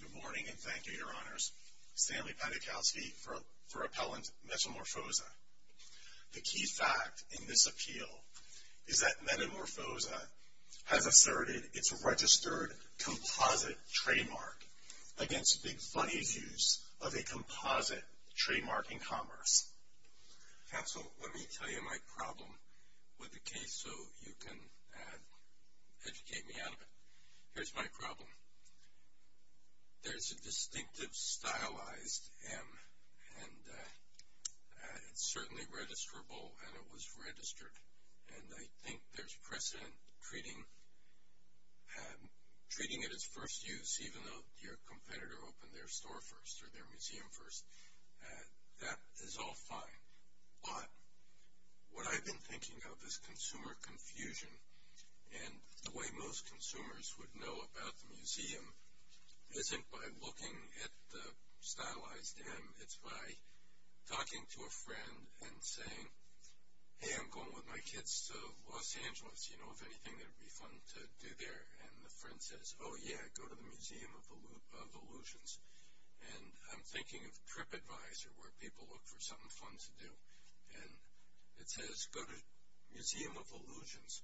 Good morning and thank you, Your Honors. Stanley Patikowsky for Appellant Metamorfoza. The key fact in this appeal is that Metamorfoza has asserted its registered composite trademark against Big Funny's use of a composite trademark in commerce. Counsel, let me tell you my problem with the case so you can educate me out of it. Here's my problem. There's a distinctive stylized M and it's certainly registrable and it was registered. And I think there's precedent treating it as first use, even though your competitor opened their store first or their museum first. That is all fine. But what I've been thinking of is consumer confusion. And the way most consumers would know about the museum isn't by looking at the stylized M. It's by talking to a friend and saying, hey, I'm going with my kids to Los Angeles, you know, if anything it would be fun to do there. And the friend says, oh, yeah, go to the Museum of Illusions. And I'm thinking of TripAdvisor where people look for something fun to do. And it says go to Museum of Illusions.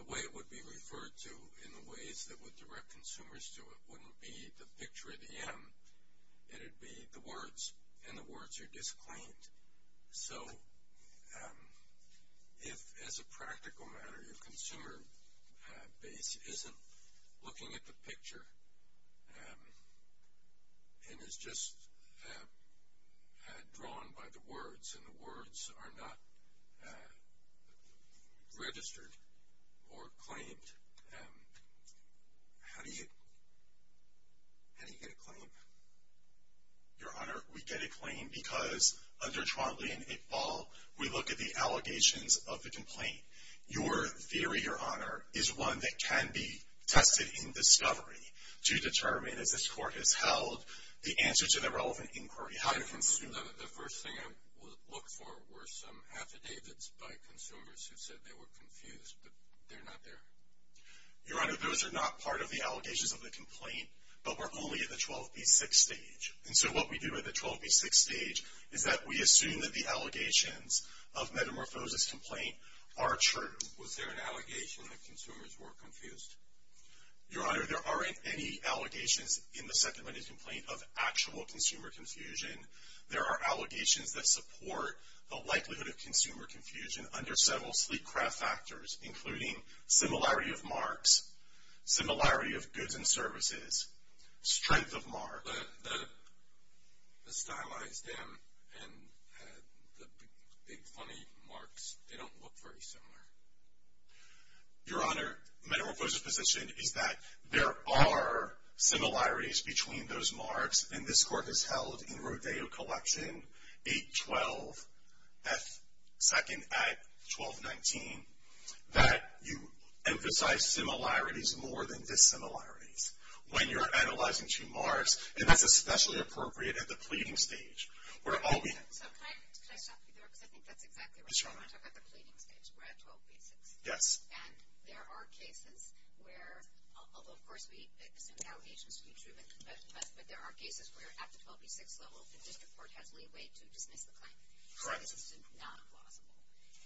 The way it would be referred to in the ways that would direct consumers to it wouldn't be the picture of the M. It would be the words. And the words are disclaimed. So if, as a practical matter, your consumer base isn't looking at the picture and is just drawn by the words and the words are not registered or claimed, how do you get a claim? Your Honor, we get a claim because under Trondley and Iqbal, we look at the allegations of the complaint. Your theory, Your Honor, is one that can be tested in discovery to determine, as this Court has held, the answer to the relevant inquiry. The first thing I would look for were some affidavits by consumers who said they were confused, but they're not there. Your Honor, those are not part of the allegations of the complaint, but we're only at the 12B6 stage. And so what we do at the 12B6 stage is that we assume that the allegations of metamorphosis complaint are true. Was there an allegation that consumers were confused? Your Honor, there aren't any allegations in the Second Amendment complaint of actual consumer confusion. There are allegations that support the likelihood of consumer confusion under several sleep-crap factors, including similarity of marks, similarity of goods and services, strength of marks. The stylized M and the big funny marks, they don't look very similar. Your Honor, metamorphosis position is that there are similarities between those marks, and this Court has held in Rodeo Collection 812F2nd Act 1219, that you emphasize similarities more than dissimilarities when you're analyzing two marks, and that's especially appropriate at the pleading stage. We're all being... So can I stop you there? Because I think that's exactly right. Yes, Your Honor. When I talk about the pleading stage, we're at 12B6. Yes. And there are cases where, although, of course, we assume allegations to be true, but there are cases where, at the 12B6 level, the district court has leeway to dismiss the claim. Correct. So this is not plausible.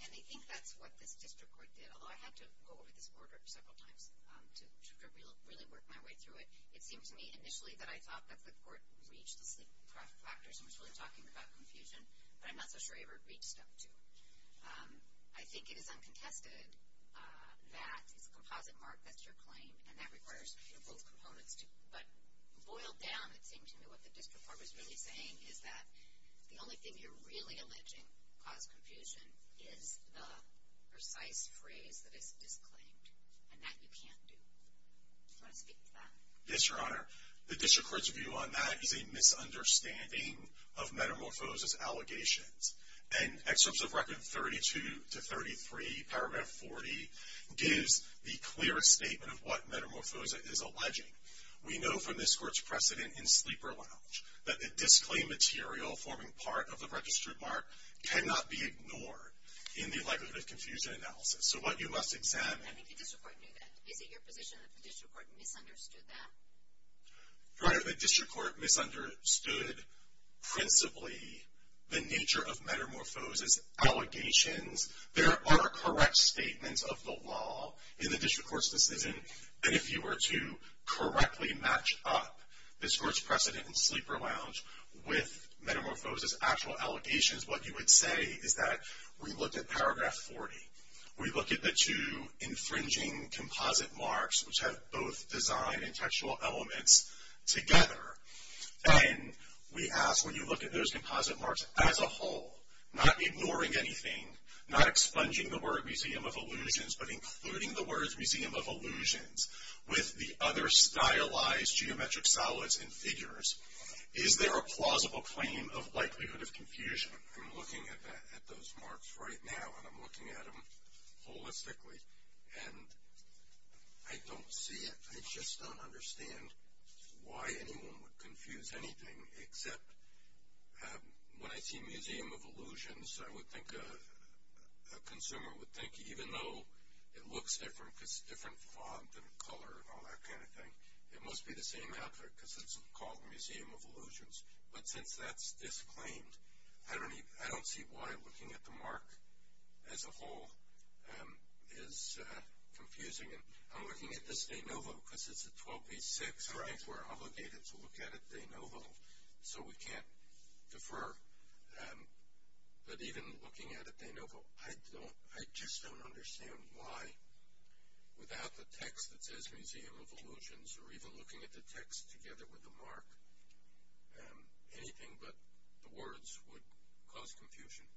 And I think that's what this district court did, although I had to go over this order several times to really work my way through it. It seemed to me initially that I thought that the court reached the sleep-crap factors and was really talking about confusion, but I'm not so sure it ever reached them, too. I think it is uncontested that it's a composite mark that's your claim, and that requires both components. But boiled down, it seemed to me what the district court was really saying is that the only thing you're really alleging caused confusion is the precise phrase that is disclaimed, and that you can't do. Do you want to speak to that? Yes, Your Honor. The district court's view on that is a misunderstanding of metamorphosis allegations. And Excerpts of Record 32-33, paragraph 40, gives the clearest statement of what metamorphosis is alleging. We know from this court's precedent in sleeper lounge that the disclaimed material forming part of the registered mark cannot be ignored in the likelihood of confusion analysis. So what you must examine... I think the district court knew that. Is it your position that the district court misunderstood that? Your Honor, the district court misunderstood principally the nature of metamorphosis allegations. There are correct statements of the law in the district court's decision that if you were to correctly match up this court's precedent in sleeper lounge with metamorphosis actual allegations, what you would say is that we looked at paragraph 40. We look at the two infringing composite marks, which have both design and textual elements together. And we ask, when you look at those composite marks as a whole, not ignoring anything, not expunging the word Museum of Illusions, but including the words Museum of Illusions with the other stylized geometric solids and figures, is there a plausible claim of likelihood of confusion? I'm looking at those marks right now, and I'm looking at them holistically. And I don't see it. I just don't understand why anyone would confuse anything, except when I see Museum of Illusions, I would think a consumer would think, even though it looks different because it's a different font and color and all that kind of thing, it must be the same outfit because it's called Museum of Illusions. But since that's disclaimed, I don't see why looking at the mark as a whole is confusing. I'm looking at this de novo because it's a 12B6. We're obligated to look at it de novo, so we can't defer. But even looking at it de novo, I just don't understand why, without the text that says Museum of Illusions or even looking at the text together with the mark, anything but the words would cause confusion.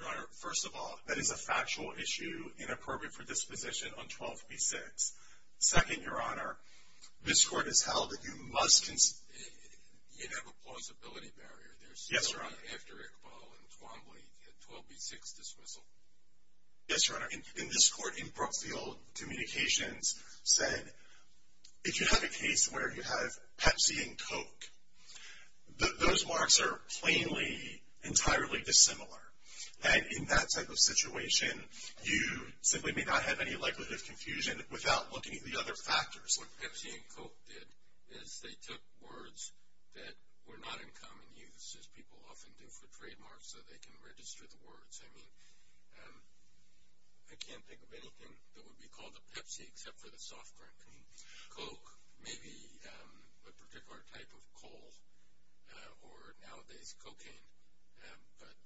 Your Honor, first of all, that is a factual issue, inappropriate for disposition on 12B6. Second, Your Honor, this Court has held that you must – You have a plausibility barrier. Yes, Your Honor. There's still, after Iqbal and Twombly, a 12B6 dismissal. Yes, Your Honor. And this Court in Brookfield Communications said if you have a case where you have Pepsi and Coke, those marks are plainly entirely dissimilar. And in that type of situation, you simply may not have any likelihood of confusion without looking at the other factors. What Pepsi and Coke did is they took words that were not in common use, as people often do for trademarks, so they can register the words. I mean, I can't think of anything that would be called a Pepsi except for the soft drink. I mean, Coke may be a particular type of coal or nowadays cocaine, but –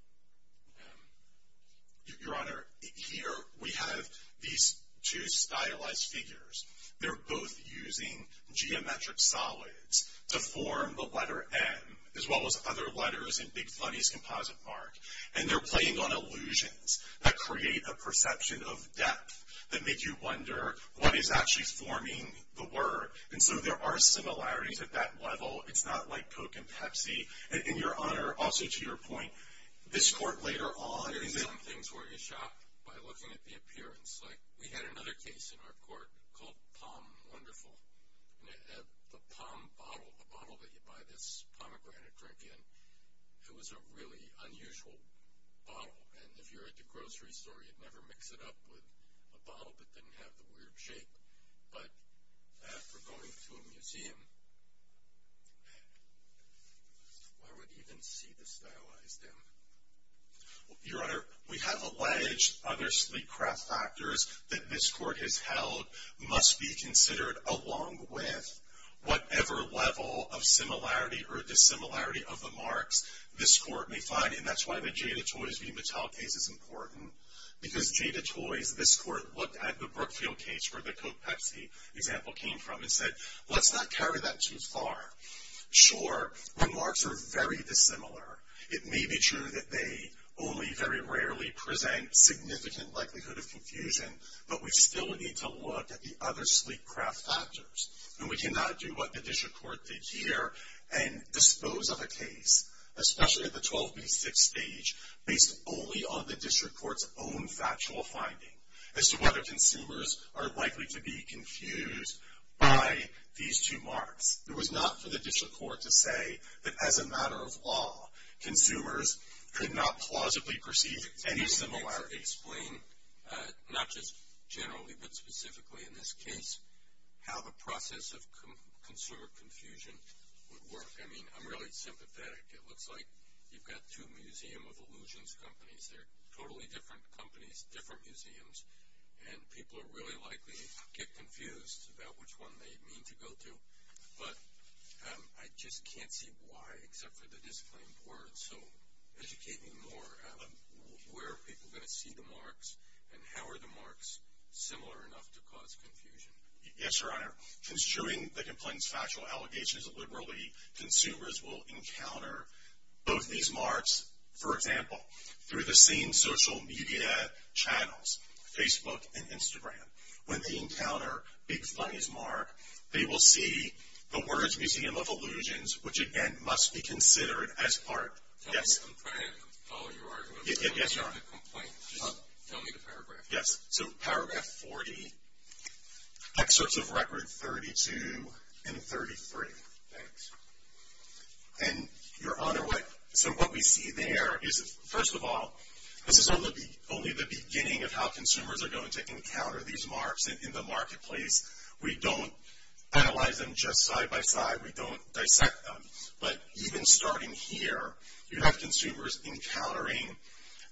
Your Honor, here we have these two stylized figures. They're both using geometric solids to form the letter M, as well as other letters in Big Funny's composite mark. And they're playing on illusions that create a perception of depth that make you wonder what is actually forming the word. And so there are similarities at that level. It's not like Coke and Pepsi. And, Your Honor, also to your point, this Court later on – There are some things where you're shocked by looking at the appearance. Like we had another case in our Court called POM Wonderful. The POM bottle, the bottle that you buy this pomegranate drink in, it was a really unusual bottle. And if you were at the grocery store, you'd never mix it up with a bottle that didn't have the weird shape. But after going to a museum, why would you even see the stylized M? Your Honor, we have alleged other sleek craft factors that this Court has held must be considered along with whatever level of similarity or dissimilarity of the marks this Court may find. And that's why the Jada Toys v. Mattel case is important. Because Jada Toys, this Court looked at the Brookfield case where the Coke-Pepsi example came from and said, let's not carry that too far. Sure, when marks are very dissimilar, it may be true that they only very rarely present significant likelihood of confusion, but we still need to look at the other sleek craft factors. And we cannot do what the District Court did here and dispose of a case, especially at the 12 v. 6 stage, based only on the District Court's own factual finding as to whether consumers are likely to be confused by these two marks. It was not for the District Court to say that, as a matter of law, consumers could not plausibly perceive any similarity. Explain, not just generally, but specifically in this case, how the process of consumer confusion would work. I mean, I'm really sympathetic. It looks like you've got two museum of illusions companies. They're totally different companies, different museums, and people are really likely to get confused about which one they mean to go to. But I just can't see why, except for the disclaimed words. So educate me more. Where are people going to see the marks, and how are the marks similar enough to cause confusion? Yes, Your Honor. Constituting the complaint's factual allegations, liberally consumers will encounter both these marks, for example, through the same social media channels, Facebook and Instagram. When they encounter Big Funny's mark, they will see the words, Museum of Illusions, which, again, must be considered as part. Yes? I'm trying to follow your argument. Yes, Your Honor. Just tell me the paragraph. Yes, so paragraph 40, excerpts of record 32 and 33. Thanks. And, Your Honor, so what we see there is, first of all, this is only the beginning of how consumers are going to encounter these marks in the marketplace. We don't analyze them just side by side. We don't dissect them. But even starting here, you have consumers encountering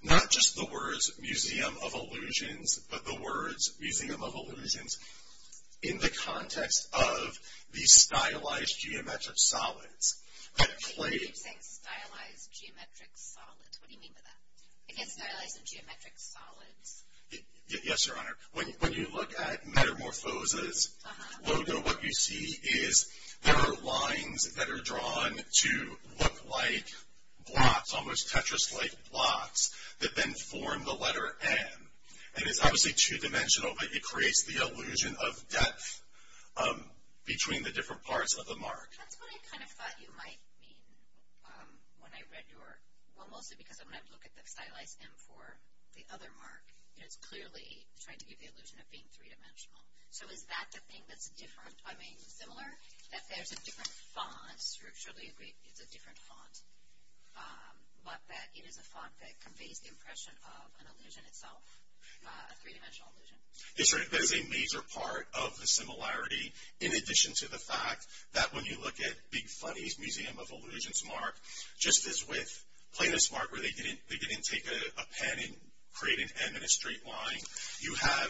not just the words, Museum of Illusions, but the words, Museum of Illusions, in the context of these stylized geometric solids. You keep saying stylized geometric solids. What do you mean by that? Again, stylized and geometric solids. Yes, Your Honor. When you look at Metamorphose's logo, what you see is there are lines that are drawn to look like blocks, almost Tetris-like blocks, that then form the letter M. And it's obviously two-dimensional, but it creates the illusion of depth between the different parts of the mark. That's what I kind of thought you might mean when I read your, well, mostly because when I look at the stylized M for the other mark, it's clearly trying to give the illusion of being three-dimensional. So is that the thing that's different, I mean similar, that there's a different font? Surely it's a different font, but that it is a font that conveys the impression of an illusion itself, a three-dimensional illusion. That's right. That is a major part of the similarity, in addition to the fact that when you look at Big Funny's Museum of Illusions mark, just as with Plainness mark, where they didn't take a pen and create an M in a straight line, you have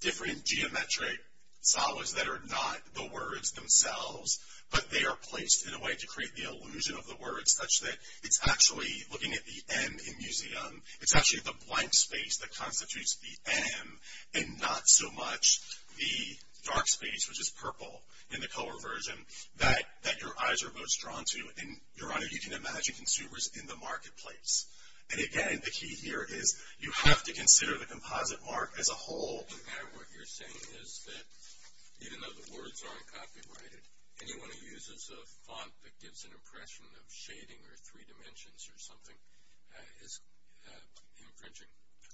different geometric solids that are not the words themselves, but they are placed in a way to create the illusion of the words such that it's actually, looking at the M in Museum, it's actually the blank space that constitutes the M and not so much the dark space, which is purple in the color version, that your eyes are most drawn to. And, Your Honor, you can imagine consumers in the marketplace. And, again, the key here is you have to consider the composite mark as a whole. What you're saying is that even though the words aren't copyrighted, anyone who uses a font that gives an impression of shading or three dimensions or something is infringing.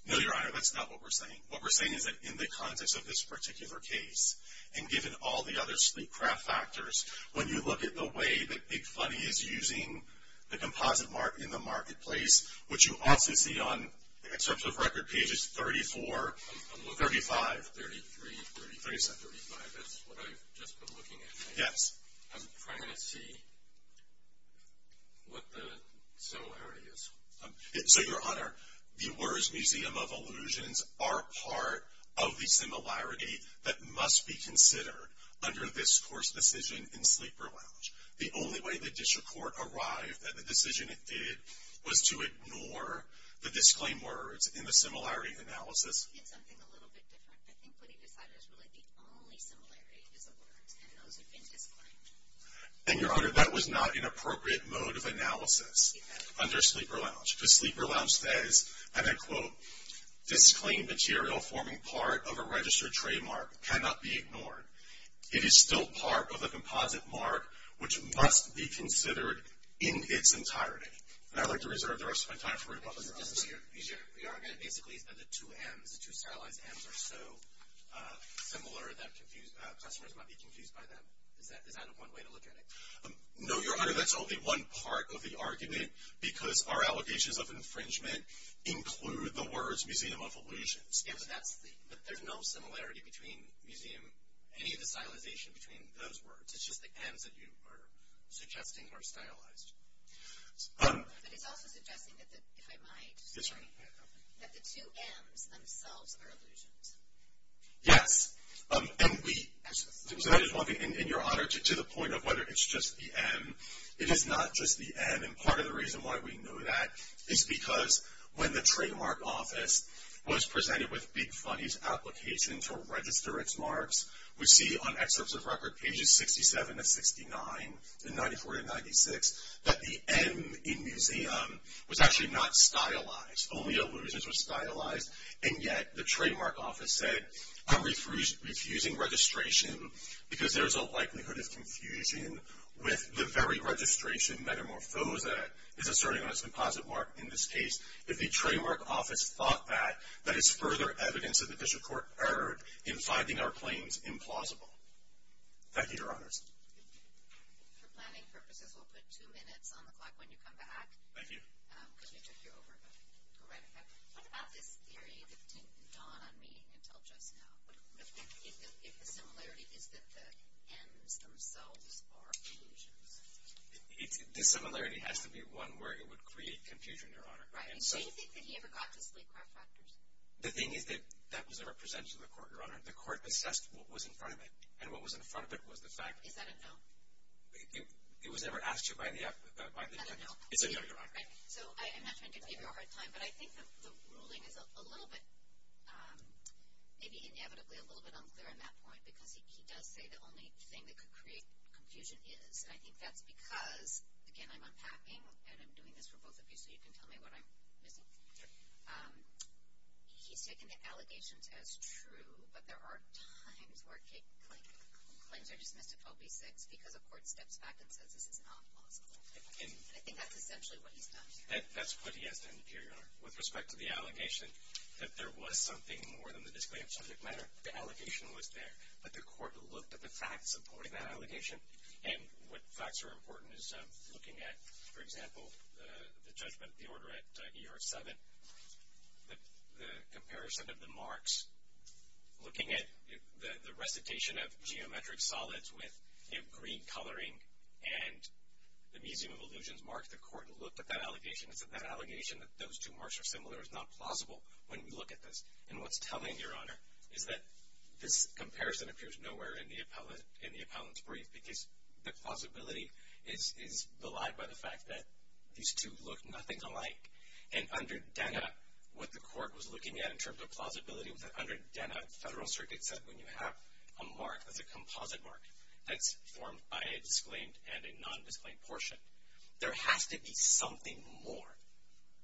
No, Your Honor, that's not what we're saying. What we're saying is that in the context of this particular case, and given all the other sleep craft factors, when you look at the way that Big Funny is using the composite mark in the marketplace, which you also see on, in terms of record, pages 34, 35. I'm looking at 33, 33, 37, 35. That's what I've just been looking at. Yes. I'm trying to see what the similarity is. So, Your Honor, the words Museum of Illusions are part of the similarity that must be considered under this court's decision in Sleeper Lounge. The only way the district court arrived at the decision it did was to ignore the disclaimed words in the similarity analysis. It's something a little bit different. I think what he decided is really the only similarity is the words, and those have been disclaimed. And, Your Honor, that was not an appropriate mode of analysis under Sleeper Lounge. Because Sleeper Lounge says, and I quote, disclaimed material forming part of a registered trademark cannot be ignored. It is still part of the composite mark, which must be considered in its entirety. And I'd like to reserve the rest of my time for rebuttals, Your Honor. Your argument basically is that the two M's, the two stylized M's, are so similar that customers might be confused by them. Is that one way to look at it? No, Your Honor, that's only one part of the argument, because our allegations of infringement include the words Museum of Illusions. But there's no similarity between Museum, any of the stylization between those words. It's just the M's that you are suggesting are stylized. But it's also suggesting that the, if I might, that the two M's themselves are illusions. Yes, and we, and Your Honor, to the point of whether it's just the M, it is not just the M, and part of the reason why we know that is because when the trademark office was presented with Big Funny's application to register its marks, we see on excerpts of record pages 67 to 69, and 94 to 96, that the M in Museum was actually not stylized. Only illusions were stylized, and yet the trademark office said, I'm refusing registration because there's a likelihood of confusion with the very registration metamorphose that is asserting on its composite mark. In this case, if the trademark office thought that, that is further evidence that the district court erred in finding our claims implausible. Thank you, Your Honors. For planning purposes, we'll put two minutes on the clock when you come back. Thank you. Because we took you over, correct? What about this theory that didn't dawn on me until just now? If the similarity is that the M's themselves are illusions. The similarity has to be one where it would create confusion, Your Honor. Right. Do you think that he ever got to sleep craft factors? The thing is that that was never presented to the court, Your Honor. The court assessed what was in front of it, and what was in front of it was the fact that— Is that a no? It was never asked to by the— That's a no. It's a no, Your Honor. So I'm not trying to give you a hard time, but I think the ruling is a little bit, maybe inevitably, a little bit unclear on that point, because he does say the only thing that could create confusion is, and I think that's because, again, I'm unpacking, and I'm doing this for both of you so you can tell me what I'm missing. Sure. He's taken the allegations as true, but there are times where claims are dismissed if OB-6 because a court steps back and says this is not possible. I think that's essentially what he's done. That's what he has done, Your Honor, with respect to the allegation, that there was something more than the disclaimer of subject matter. The allegation was there, but the court looked at the facts supporting that allegation, and what facts are important is looking at, for example, the judgment of the order at ER-7, the comparison of the marks, looking at the recitation of geometric solids with green coloring, and the Museum of Illusions mark, the court looked at that allegation. It's that that allegation, that those two marks are similar, is not plausible when you look at this. And what's telling, Your Honor, is that this comparison appears nowhere in the appellant's brief because the plausibility is belied by the fact that these two look nothing alike. And under DENA, what the court was looking at in terms of plausibility was that under DENA, the Federal Circuit said when you have a mark that's a composite mark that's formed by a disclaimed and a non-disclaimed portion, there has to be something more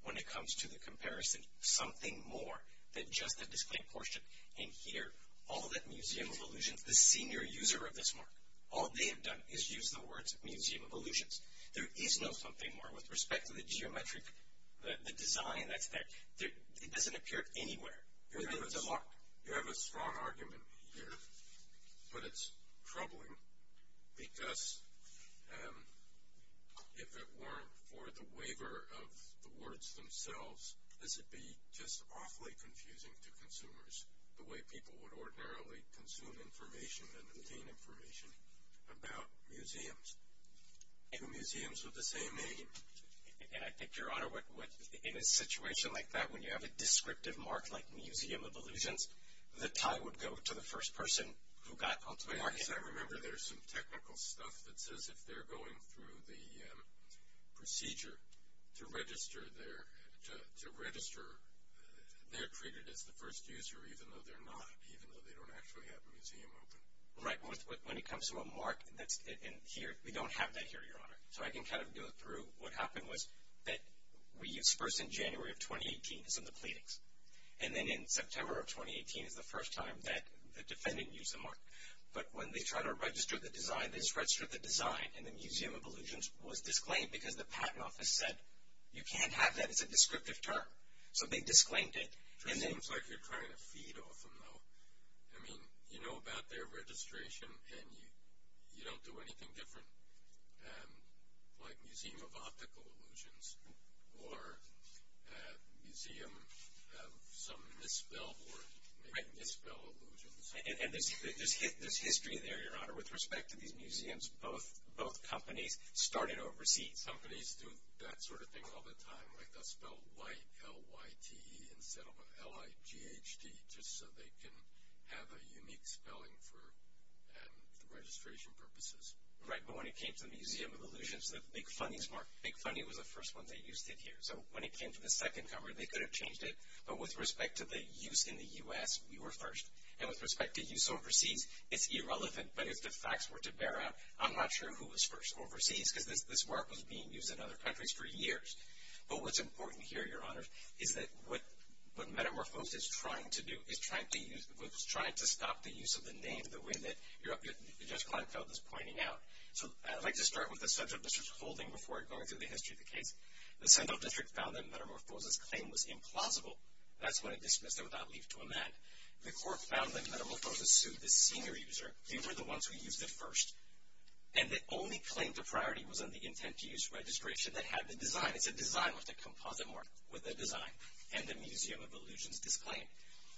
when it comes to the comparison, something more than just a disclaimed portion. And here, all that Museum of Illusions, the senior user of this mark, all they have done is use the words Museum of Illusions. There is no something more with respect to the geometric, the design that's there. It doesn't appear anywhere. You have a strong argument here, but it's troubling because if it weren't for the waiver of the words themselves, this would be just awfully confusing to consumers, the way people would ordinarily consume information and obtain information about museums. Two museums with the same name. And I think, Your Honor, in a situation like that, when you have a descriptive mark like Museum of Illusions, the tie would go to the first person who got onto the mark. As I remember, there's some technical stuff that says if they're going through the procedure to register, they're treated as the first user even though they're not, even though they don't actually have a museum open. Right. When it comes to a mark, we don't have that here, Your Honor. So I can kind of go through what happened was that we used first in January of 2018 as in the pleadings. And then in September of 2018 is the first time that the defendant used the mark. But when they tried to register the design, they just registered the design, and the Museum of Illusions was disclaimed because the patent office said you can't have that. It's a descriptive term. So they disclaimed it. I mean, you know about their registration, and you don't do anything different, like Museum of Optical Illusions or Museum of some misspell or maybe misspell illusions. And there's history there, Your Honor, with respect to these museums. Both companies started overseas. Companies do that sort of thing all the time, like they'll spell Y-L-Y-T instead of L-I-G-H-T just so they can have a unique spelling for the registration purposes. Right. But when it came to the Museum of Illusions, the Big Funny was the first one they used it here. So when it came to the second cover, they could have changed it. But with respect to the use in the U.S., we were first. And with respect to use overseas, it's irrelevant. But if the facts were to bear out, I'm not sure who was first overseas because this work was being used in other countries for years. But what's important here, Your Honor, is that what Metamorphose is trying to do is trying to stop the use of the name the way that Judge Kleinfeld is pointing out. So I'd like to start with the central district's holding before I go into the history of the case. The central district found that Metamorphose's claim was implausible. That's why it dismissed it without leave to amend. The court found that Metamorphose sued the senior user. They were the ones who used it first. And the only claim to priority was on the intent-to-use registration that had been designed. It's a design with a composite mark with a design. And the Museum of Illusions disclaimed it.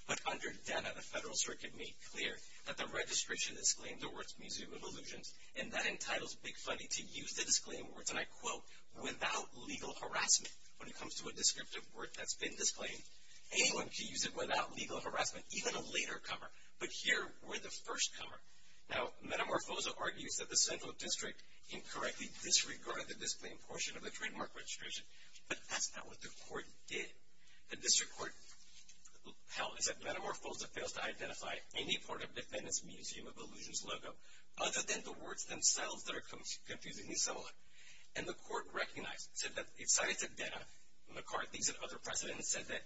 But under DENA, the Federal Circuit made clear that the registration disclaimed the words Museum of Illusions. And that entitles Big Funny to use the disclaimed words, and I quote, without legal harassment when it comes to a descriptive word that's been disclaimed. Anyone can use it without legal harassment, even a later cover. But here, we're the first cover. Now, Metamorphose argues that the central district incorrectly disregarded the disclaimed portion of the trademark registration. But that's not what the court did. The district court held that Metamorphose fails to identify any part of Defendant's Museum of Illusions logo other than the words themselves that are confusingly similar. And the court recognized it, said that it cited to DENA. McCarthy's another precedent said that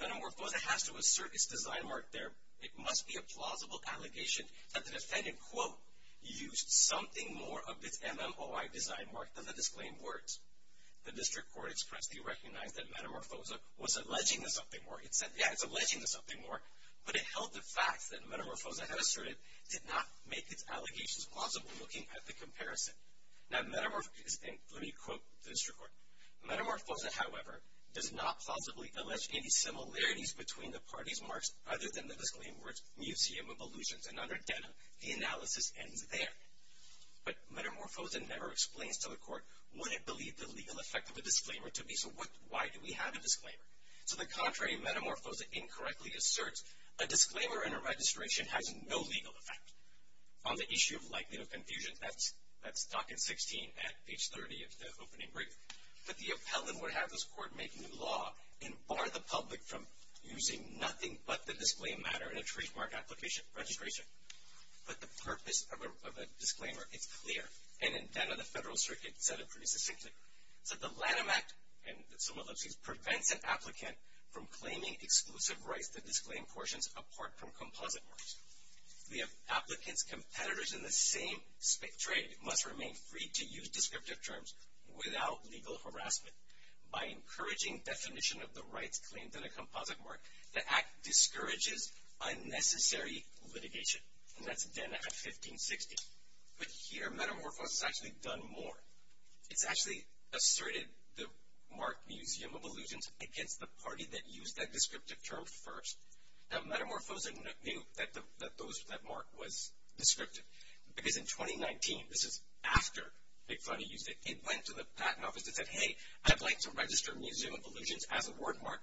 Metamorphose has to assert its design mark there. It must be a plausible allegation that the defendant, quote, used something more of its MMOI design mark than the disclaimed words. The district court expressly recognized that Metamorphose was alleging to something more. It said, yeah, it's alleging to something more. But it held the fact that Metamorphose had asserted did not make its allegations plausible looking at the comparison. Now, Metamorphose, and let me quote the district court. Metamorphose, however, does not plausibly allege any similarities between the parties' marks other than the disclaimed words Museum of Illusions. And under DENA, the analysis ends there. But Metamorphose never explains to the court what it believed the legal effect of a disclaimer to be. So why do we have a disclaimer? To the contrary, Metamorphose incorrectly asserts a disclaimer in a registration has no legal effect. On the issue of likelihood of confusion, that's document 16 at page 30 of the opening brief. But the appellant would have this court make new law and bar the public from using nothing but the disclaimed matter in a trademark application registration. But the purpose of a disclaimer, it's clear. And in DENA, the Federal Circuit said it pretty succinctly. It said the Lanham Act, and some of those things, prevents an applicant from claiming exclusive rights to disclaimed portions apart from composite marks. The applicant's competitors in the same trade must remain free to use descriptive terms without legal harassment. By encouraging definition of the rights claimed in a composite mark, the act discourages unnecessary litigation. And that's DENA at 1560. But here, Metamorphose has actually done more. It's actually asserted the mark Museum of Illusions against the party that used that descriptive term first. Now, Metamorphose knew that that mark was descriptive. Because in 2019, this is after Big Funny used it, it went to the patent office and said, hey, I'd like to register Museum of Illusions as a word mark,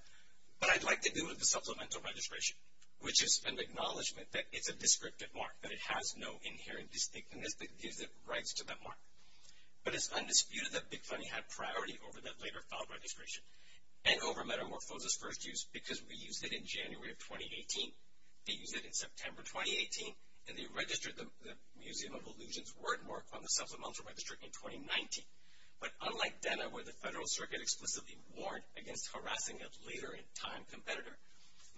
but I'd like to do it with a supplemental registration. Which is an acknowledgment that it's a descriptive mark, that it has no inherent distinctiveness that gives it rights to that mark. But it's undisputed that Big Funny had priority over that later filed registration and over Metamorphose's first use because we used it in January of 2018. They used it in September 2018, and they registered the Museum of Illusions word mark on the supplemental registration in 2019. But unlike DENA, where the Federal Circuit explicitly warned against harassing a later-in-time competitor,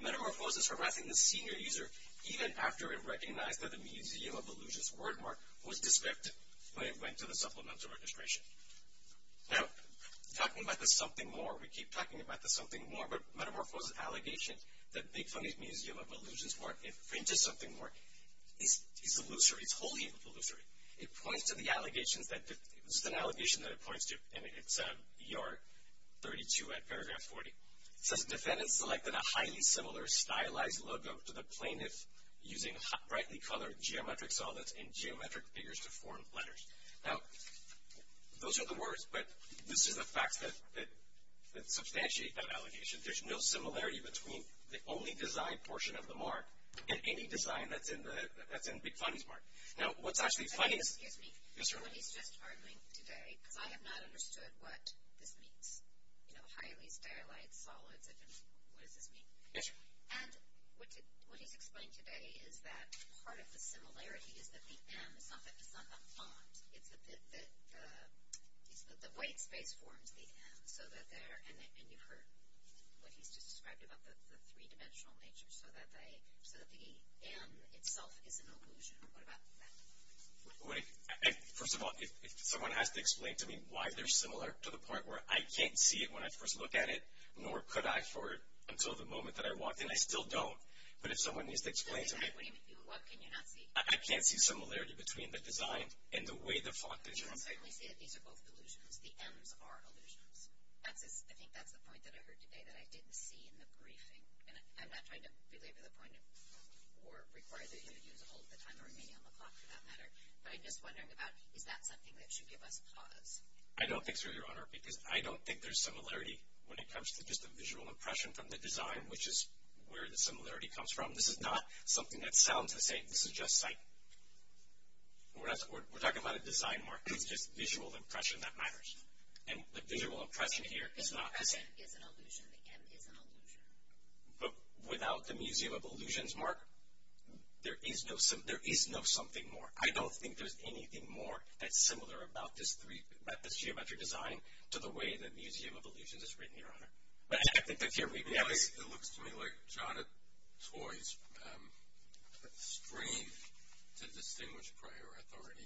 Metamorphose is harassing the senior user even after it recognized that the Museum of Illusions word mark was descriptive when it went to the supplemental registration. Now, talking about the something more, we keep talking about the something more, but Metamorphose's allegation that Big Funny's Museum of Illusions word mark infringes something more is illusory, it's wholly illusory. It points to the allegations that, this is an allegation that it points to, and it's ER 32 at paragraph 40. It says, defendants selected a highly similar stylized logo to the plaintiff using brightly colored geometric solids and geometric figures to form letters. Now, those are the words, but this is the facts that substantiate that allegation. There's no similarity between the only design portion of the mark and any design that's in Big Funny's mark. Now, what's actually funny is- Excuse me. Yes, ma'am. What he's just arguing today, because I have not understood what this means, you know, highly stylized solids, what does this mean? Yes, ma'am. And what he's explained today is that part of the similarity is that the M is not the font, it's that the white space forms the M, so that there, and you've heard what he's just described about the three-dimensional nature, so that the M itself is an illusion. What about that? First of all, if someone has to explain to me why they're similar to the point where I can't see it when I first look at it, nor could I for until the moment that I walked in, I still don't. But if someone needs to explain to me- What can you not see? I can't see similarity between the design and the way the font is designed. I can certainly see that these are both illusions. The M's are illusions. I think that's the point that I heard today that I didn't see in the briefing, and I'm not trying to belabor the point or require that you use all of the time remaining on the clock, for that matter, but I'm just wondering about is that something that should give us pause? I don't think so, Your Honor, because I don't think there's similarity when it comes to just a visual impression from the design, which is where the similarity comes from. This is not something that sounds the same. This is just sight. We're talking about a design, Mark. It's just visual impression that matters. And the visual impression here is not the same. The M is an illusion. The M is an illusion. But without the Museum of Illusions, Mark, there is no something more. I don't think there's anything more that's similar about this geometric design to the way the Museum of Illusions is written, Your Honor. It looks to me like Jada Toys' strength to distinguish prior authority,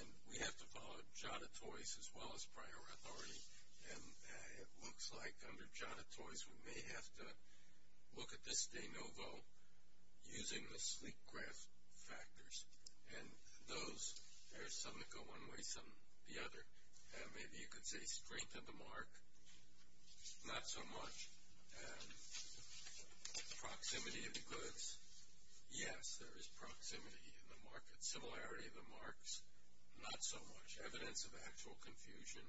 and we have to follow Jada Toys as well as prior authority, and it looks like under Jada Toys we may have to look at this de novo using the sleek graph factors. And those, there's some that go one way, some the other. Maybe you could say strength of the mark, not so much. Proximity of the goods, yes, there is proximity in the market. Similarity of the marks, not so much. Evidence of actual confusion,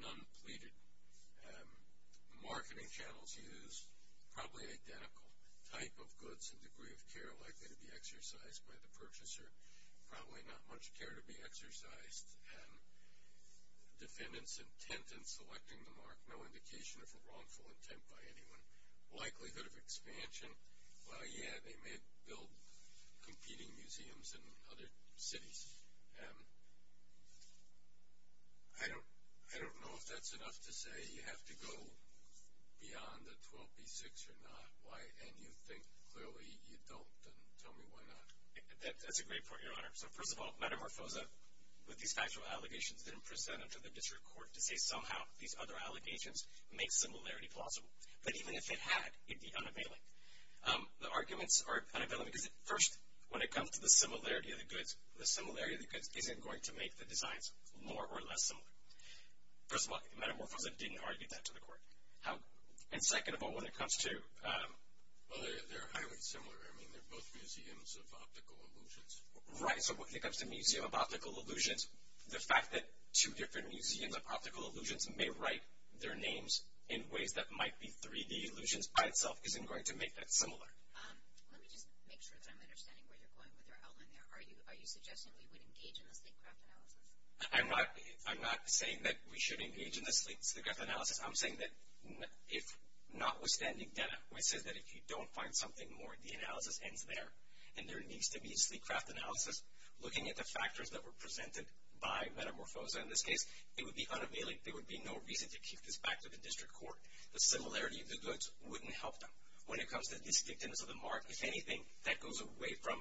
none pleaded. Marketing channels used, probably identical. Type of goods and degree of care likely to be exercised by the purchaser, probably not much care to be exercised. Defendants intent in selecting the mark, no indication of a wrongful intent by anyone. Likelihood of expansion, well, yeah, they may build competing museums in other cities. I don't know if that's enough to say you have to go beyond the 12B6 or not, and you think clearly you don't, then tell me why not. That's a great point, Your Honor. So, first of all, Metamorphosa, with these factual allegations, didn't present them to the district court to say somehow these other allegations make similarity plausible. But even if it had, it'd be unavailable. The arguments are unavailable because, first, when it comes to the similarity of the goods, the similarity of the goods isn't going to make the designs more or less similar. First of all, Metamorphosa didn't argue that to the court. And second of all, when it comes to... Well, they're highly similar. I mean, they're both museums of optical illusions. Right. So, when it comes to museum of optical illusions, the fact that two different museums of optical illusions may write their names in ways that might be 3D illusions by itself isn't going to make that similar. Let me just make sure that I'm understanding where you're going with your outline there. Are you suggesting we would engage in the sleek craft analysis? I'm not saying that we should engage in the sleek craft analysis. I'm saying that if notwithstanding data, which says that if you don't find something more, the analysis ends there, and there needs to be sleek craft analysis looking at the factors that were presented by Metamorphosa in this case, it would be unavailable. There would be no reason to keep this back to the district court. The similarity of the goods wouldn't help them. When it comes to distinctiveness of the mark, if anything, that goes away from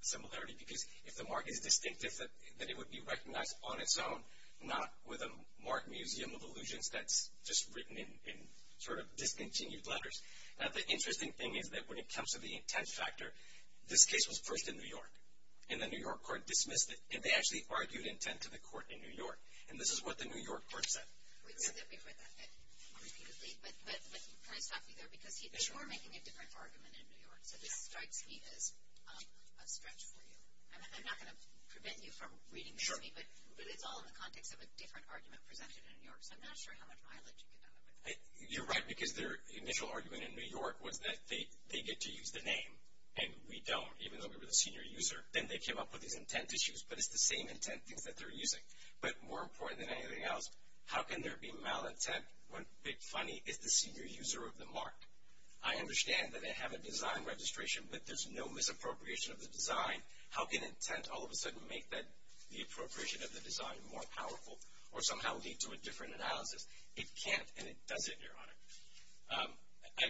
similarity because if the mark is distinctive, then it would be recognized on its own, not with a marked museum of illusions that's just written in sort of discontinued letters. Now, the interesting thing is that when it comes to the intent factor, this case was first in New York, and the New York court dismissed it, and they actually argued intent to the court in New York, and this is what the New York court said. We've said that we've read that repeatedly, but can I stop you there? Because you are making a different argument in New York, so this strikes me as a stretch for you. I'm not going to prevent you from reading this to me, but it's all in the context of a different argument presented in New York, so I'm not sure how much mileage you can have with it. You're right, because their initial argument in New York was that they get to use the name, and we don't, even though we were the senior user. Then they came up with these intent issues, but it's the same intent things that they're using. But more important than anything else, how can there be malintent when Big Funny is the senior user of the mark? I understand that they have a design registration, but there's no misappropriation of the design. How can intent all of a sudden make the appropriation of the design more powerful or somehow lead to a different analysis? It can't, and it doesn't, Your Honor.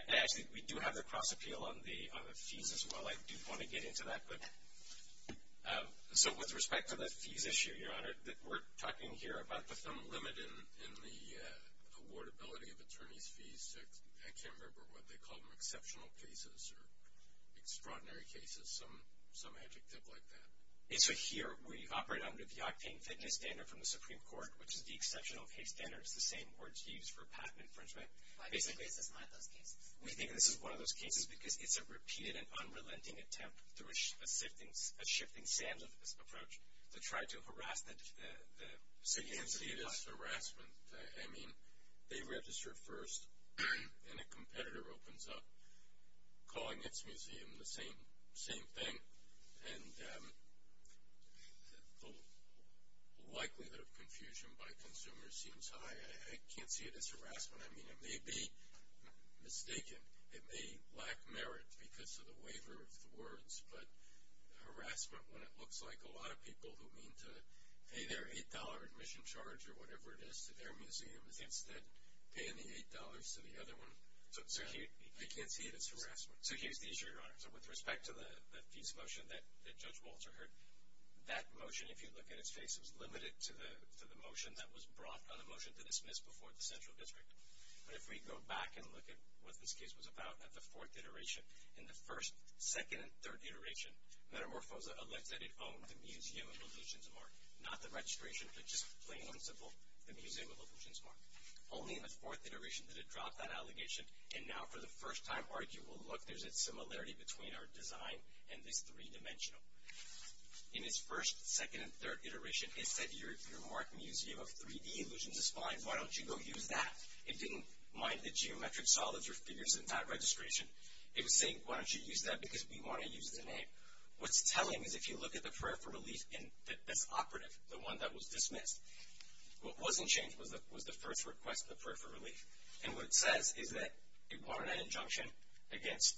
Actually, we do have the cross appeal on the fees as well. I do want to get into that. So with respect to the fees issue, Your Honor, we're talking here about the thumb limit in the awardability of attorney's fees. I can't remember what they call them, exceptional cases or extraordinary cases, some adjective like that. So here we operate under the octane fitness standard from the Supreme Court, which is the exceptional case standard. It's the same words used for patent infringement. Why do you think this is one of those cases? We think this is one of those cases because it's a repeated and unrelenting attempt through a shifting standards approach to try to harass the citizens. So you can see this harassment. I mean, they registered first, and a competitor opens up calling its museum the same thing. And the likelihood of confusion by consumers seems high. I can't see it as harassment. I mean, it may be mistaken. It may lack merit because of the waiver of the words, but harassment when it looks like a lot of people who mean to pay their $8 admission charge or whatever it is to their museum is instead paying the $8 to the other one. I can't see it as harassment. So here's the issue, Your Honor. So with respect to the peace motion that Judge Walter heard, that motion, if you look at its face, it was limited to the motion that was brought on a motion to dismiss before the central district. But if we go back and look at what this case was about at the fourth iteration, in the first, second, and third iteration, Metamorphosa alleged that it owned the museum of illusions mark, not the registration, but just plain and simple the museum of illusions mark. Only in the fourth iteration did it drop that allegation, and now for the first time, I argue, well, look, there's a similarity between our design and this three-dimensional. In its first, second, and third iteration, it said your mark museum of 3-D illusions is fine. Why don't you go use that? It didn't mind the geometric solids or figures in that registration. It was saying, why don't you use that because we want to use the name. What's telling is if you look at the prayer for relief in this operative, the one that was dismissed, and what it says is that it wanted an injunction against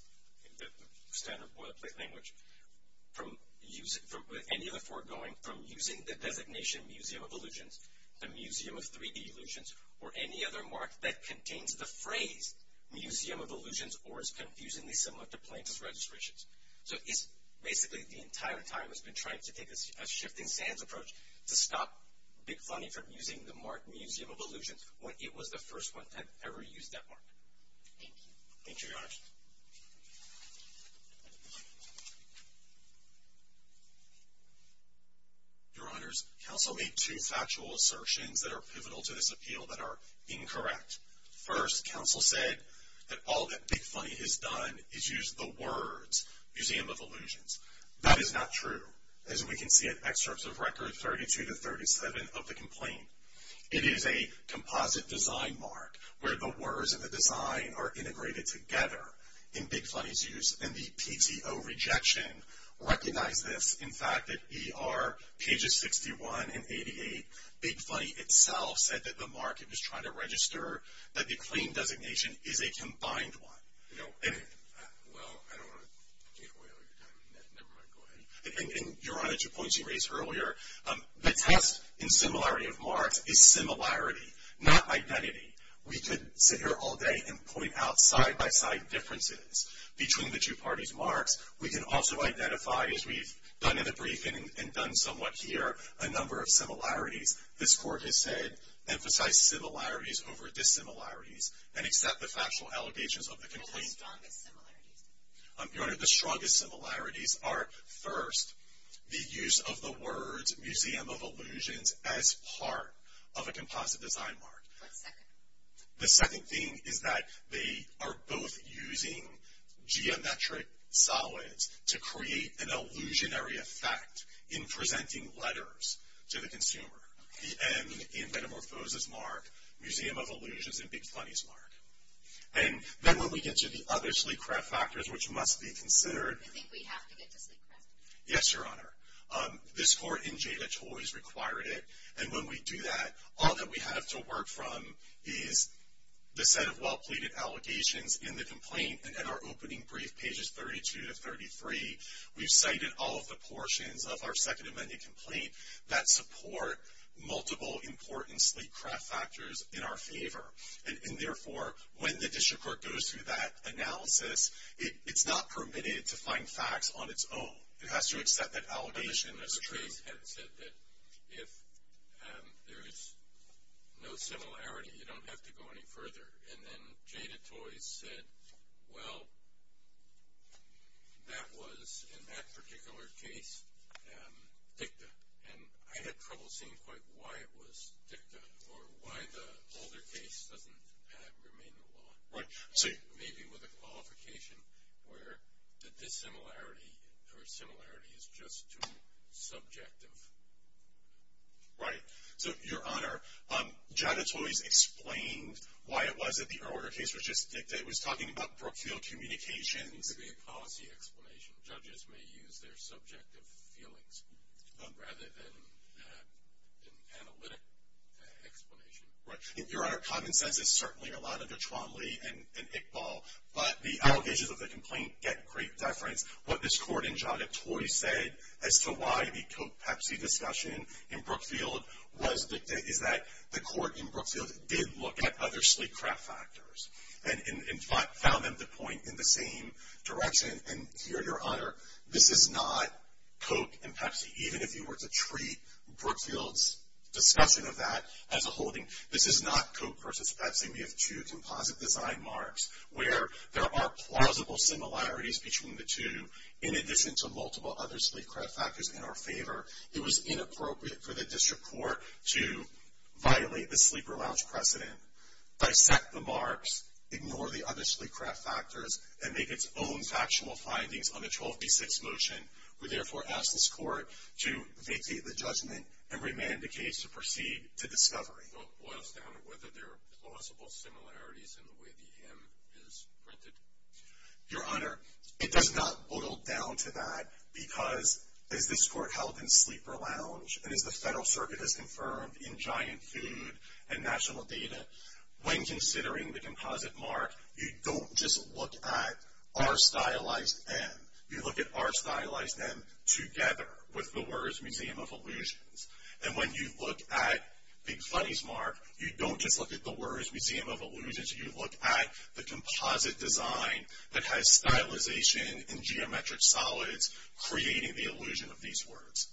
the standard boilerplate language with any of the four going from using the designation museum of illusions, the museum of 3-D illusions, or any other mark that contains the phrase museum of illusions or is confusingly similar to plaintiff's registrations. So it's basically the entire time it's been trying to take a shifting stands approach to stop Big Funny from using the mark museum of illusions when it was the first one to have ever used that mark. Thank you. Thank you, Your Honor. Your Honors, counsel made two factual assertions that are pivotal to this appeal that are incorrect. First, counsel said that all that Big Funny has done is use the words museum of illusions. That is not true. As we can see in excerpts of record 32 to 37 of the complaint, it is a composite design mark where the words and the design are integrated together in Big Funny's use. And the PTO rejection recognized this. In fact, at ER pages 61 and 88, Big Funny itself said that the mark it was trying to register, that the claim designation is a combined one. Well, I don't want to take away all your time. Never mind. Go ahead. Your Honor, to the points you raised earlier, the test in similarity of marks is similarity, not identity. We could sit here all day and point out side-by-side differences between the two parties' marks. We can also identify, as we've done in the briefing and done somewhat here, a number of similarities. This Court has said emphasize similarities over dissimilarities and accept the factual allegations of the complaint. What are the strongest similarities? Your Honor, the strongest similarities are, first, the use of the words museum of illusions as part of a composite design mark. What's second? The second thing is that they are both using geometric solids to create an illusionary effect in presenting letters to the consumer. The M in metamorphosis mark, museum of illusions in Big Funny's mark. And then when we get to the other sleep craft factors, which must be considered. I think we have to get to sleep craft. Yes, Your Honor. This Court in Jayda Choi's required it. And when we do that, all that we have to work from is the set of well-pleaded allegations in the complaint. And in our opening brief, pages 32 to 33, we've cited all of the portions of our Second Amendment complaint that support multiple important sleep craft factors in our favor. And, therefore, when the district court goes through that analysis, it's not permitted to find facts on its own. It has to accept that allegation as true. The case had said that if there is no similarity, you don't have to go any further. And then Jayda Choi said, well, that was, in that particular case, dicta. And I had trouble seeing quite why it was dicta or why the older case doesn't remain the law. Right. Maybe with a qualification where the dissimilarity or similarity is just too subjective. Right. So, Your Honor, Jayda Choi's explained why it was that the earlier case was just dicta. It was talking about Brookfield Communications. It could be a policy explanation. Judges may use their subjective feelings rather than an analytic explanation. Right. Your Honor, common sense is certainly allowed under Tromley and Iqbal. But the allegations of the complaint get great deference. What this court in Jayda Choi said as to why the Coke-Pepsi discussion in Brookfield was dicta is that the court in Brookfield did look at other sleep craft factors and found them to point in the same direction. And, here, Your Honor, this is not Coke and Pepsi. Even if you were to treat Brookfield's discussion of that as a holding, this is not Coke versus Pepsi. We have two composite design marks where there are plausible similarities between the two in addition to multiple other sleep craft factors in our favor. It was inappropriate for the district court to violate the sleeper lounge precedent, dissect the marks, ignore the other sleep craft factors, and make its own factional findings on the 12B6 motion. We, therefore, ask this court to vacate the judgment and remand the case to proceed to discovery. So it boils down to whether there are plausible similarities in the way the M is printed. Your Honor, it does not boil down to that because, as this court held in sleeper lounge and as the Federal Circuit has confirmed in giant food and national data, when considering the composite mark, you don't just look at our stylized M. You look at our stylized M together with the words Museum of Illusions. And when you look at Big Funny's mark, you don't just look at the words Museum of Illusions. You look at the composite design that has stylization and geometric solids creating the illusion of these words.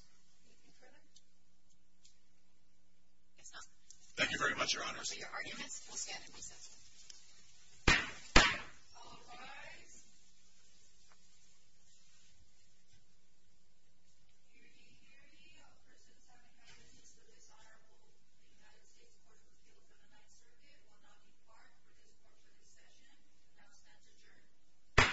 Thank you very much, Your Honor. Those are your arguments. We'll stand and recess. All rise. Hear ye, hear ye. A person's having an instance of dishonorable. The United States Court of Appeal for the Ninth Circuit will not depart for this portion of the session. The house stands adjourned.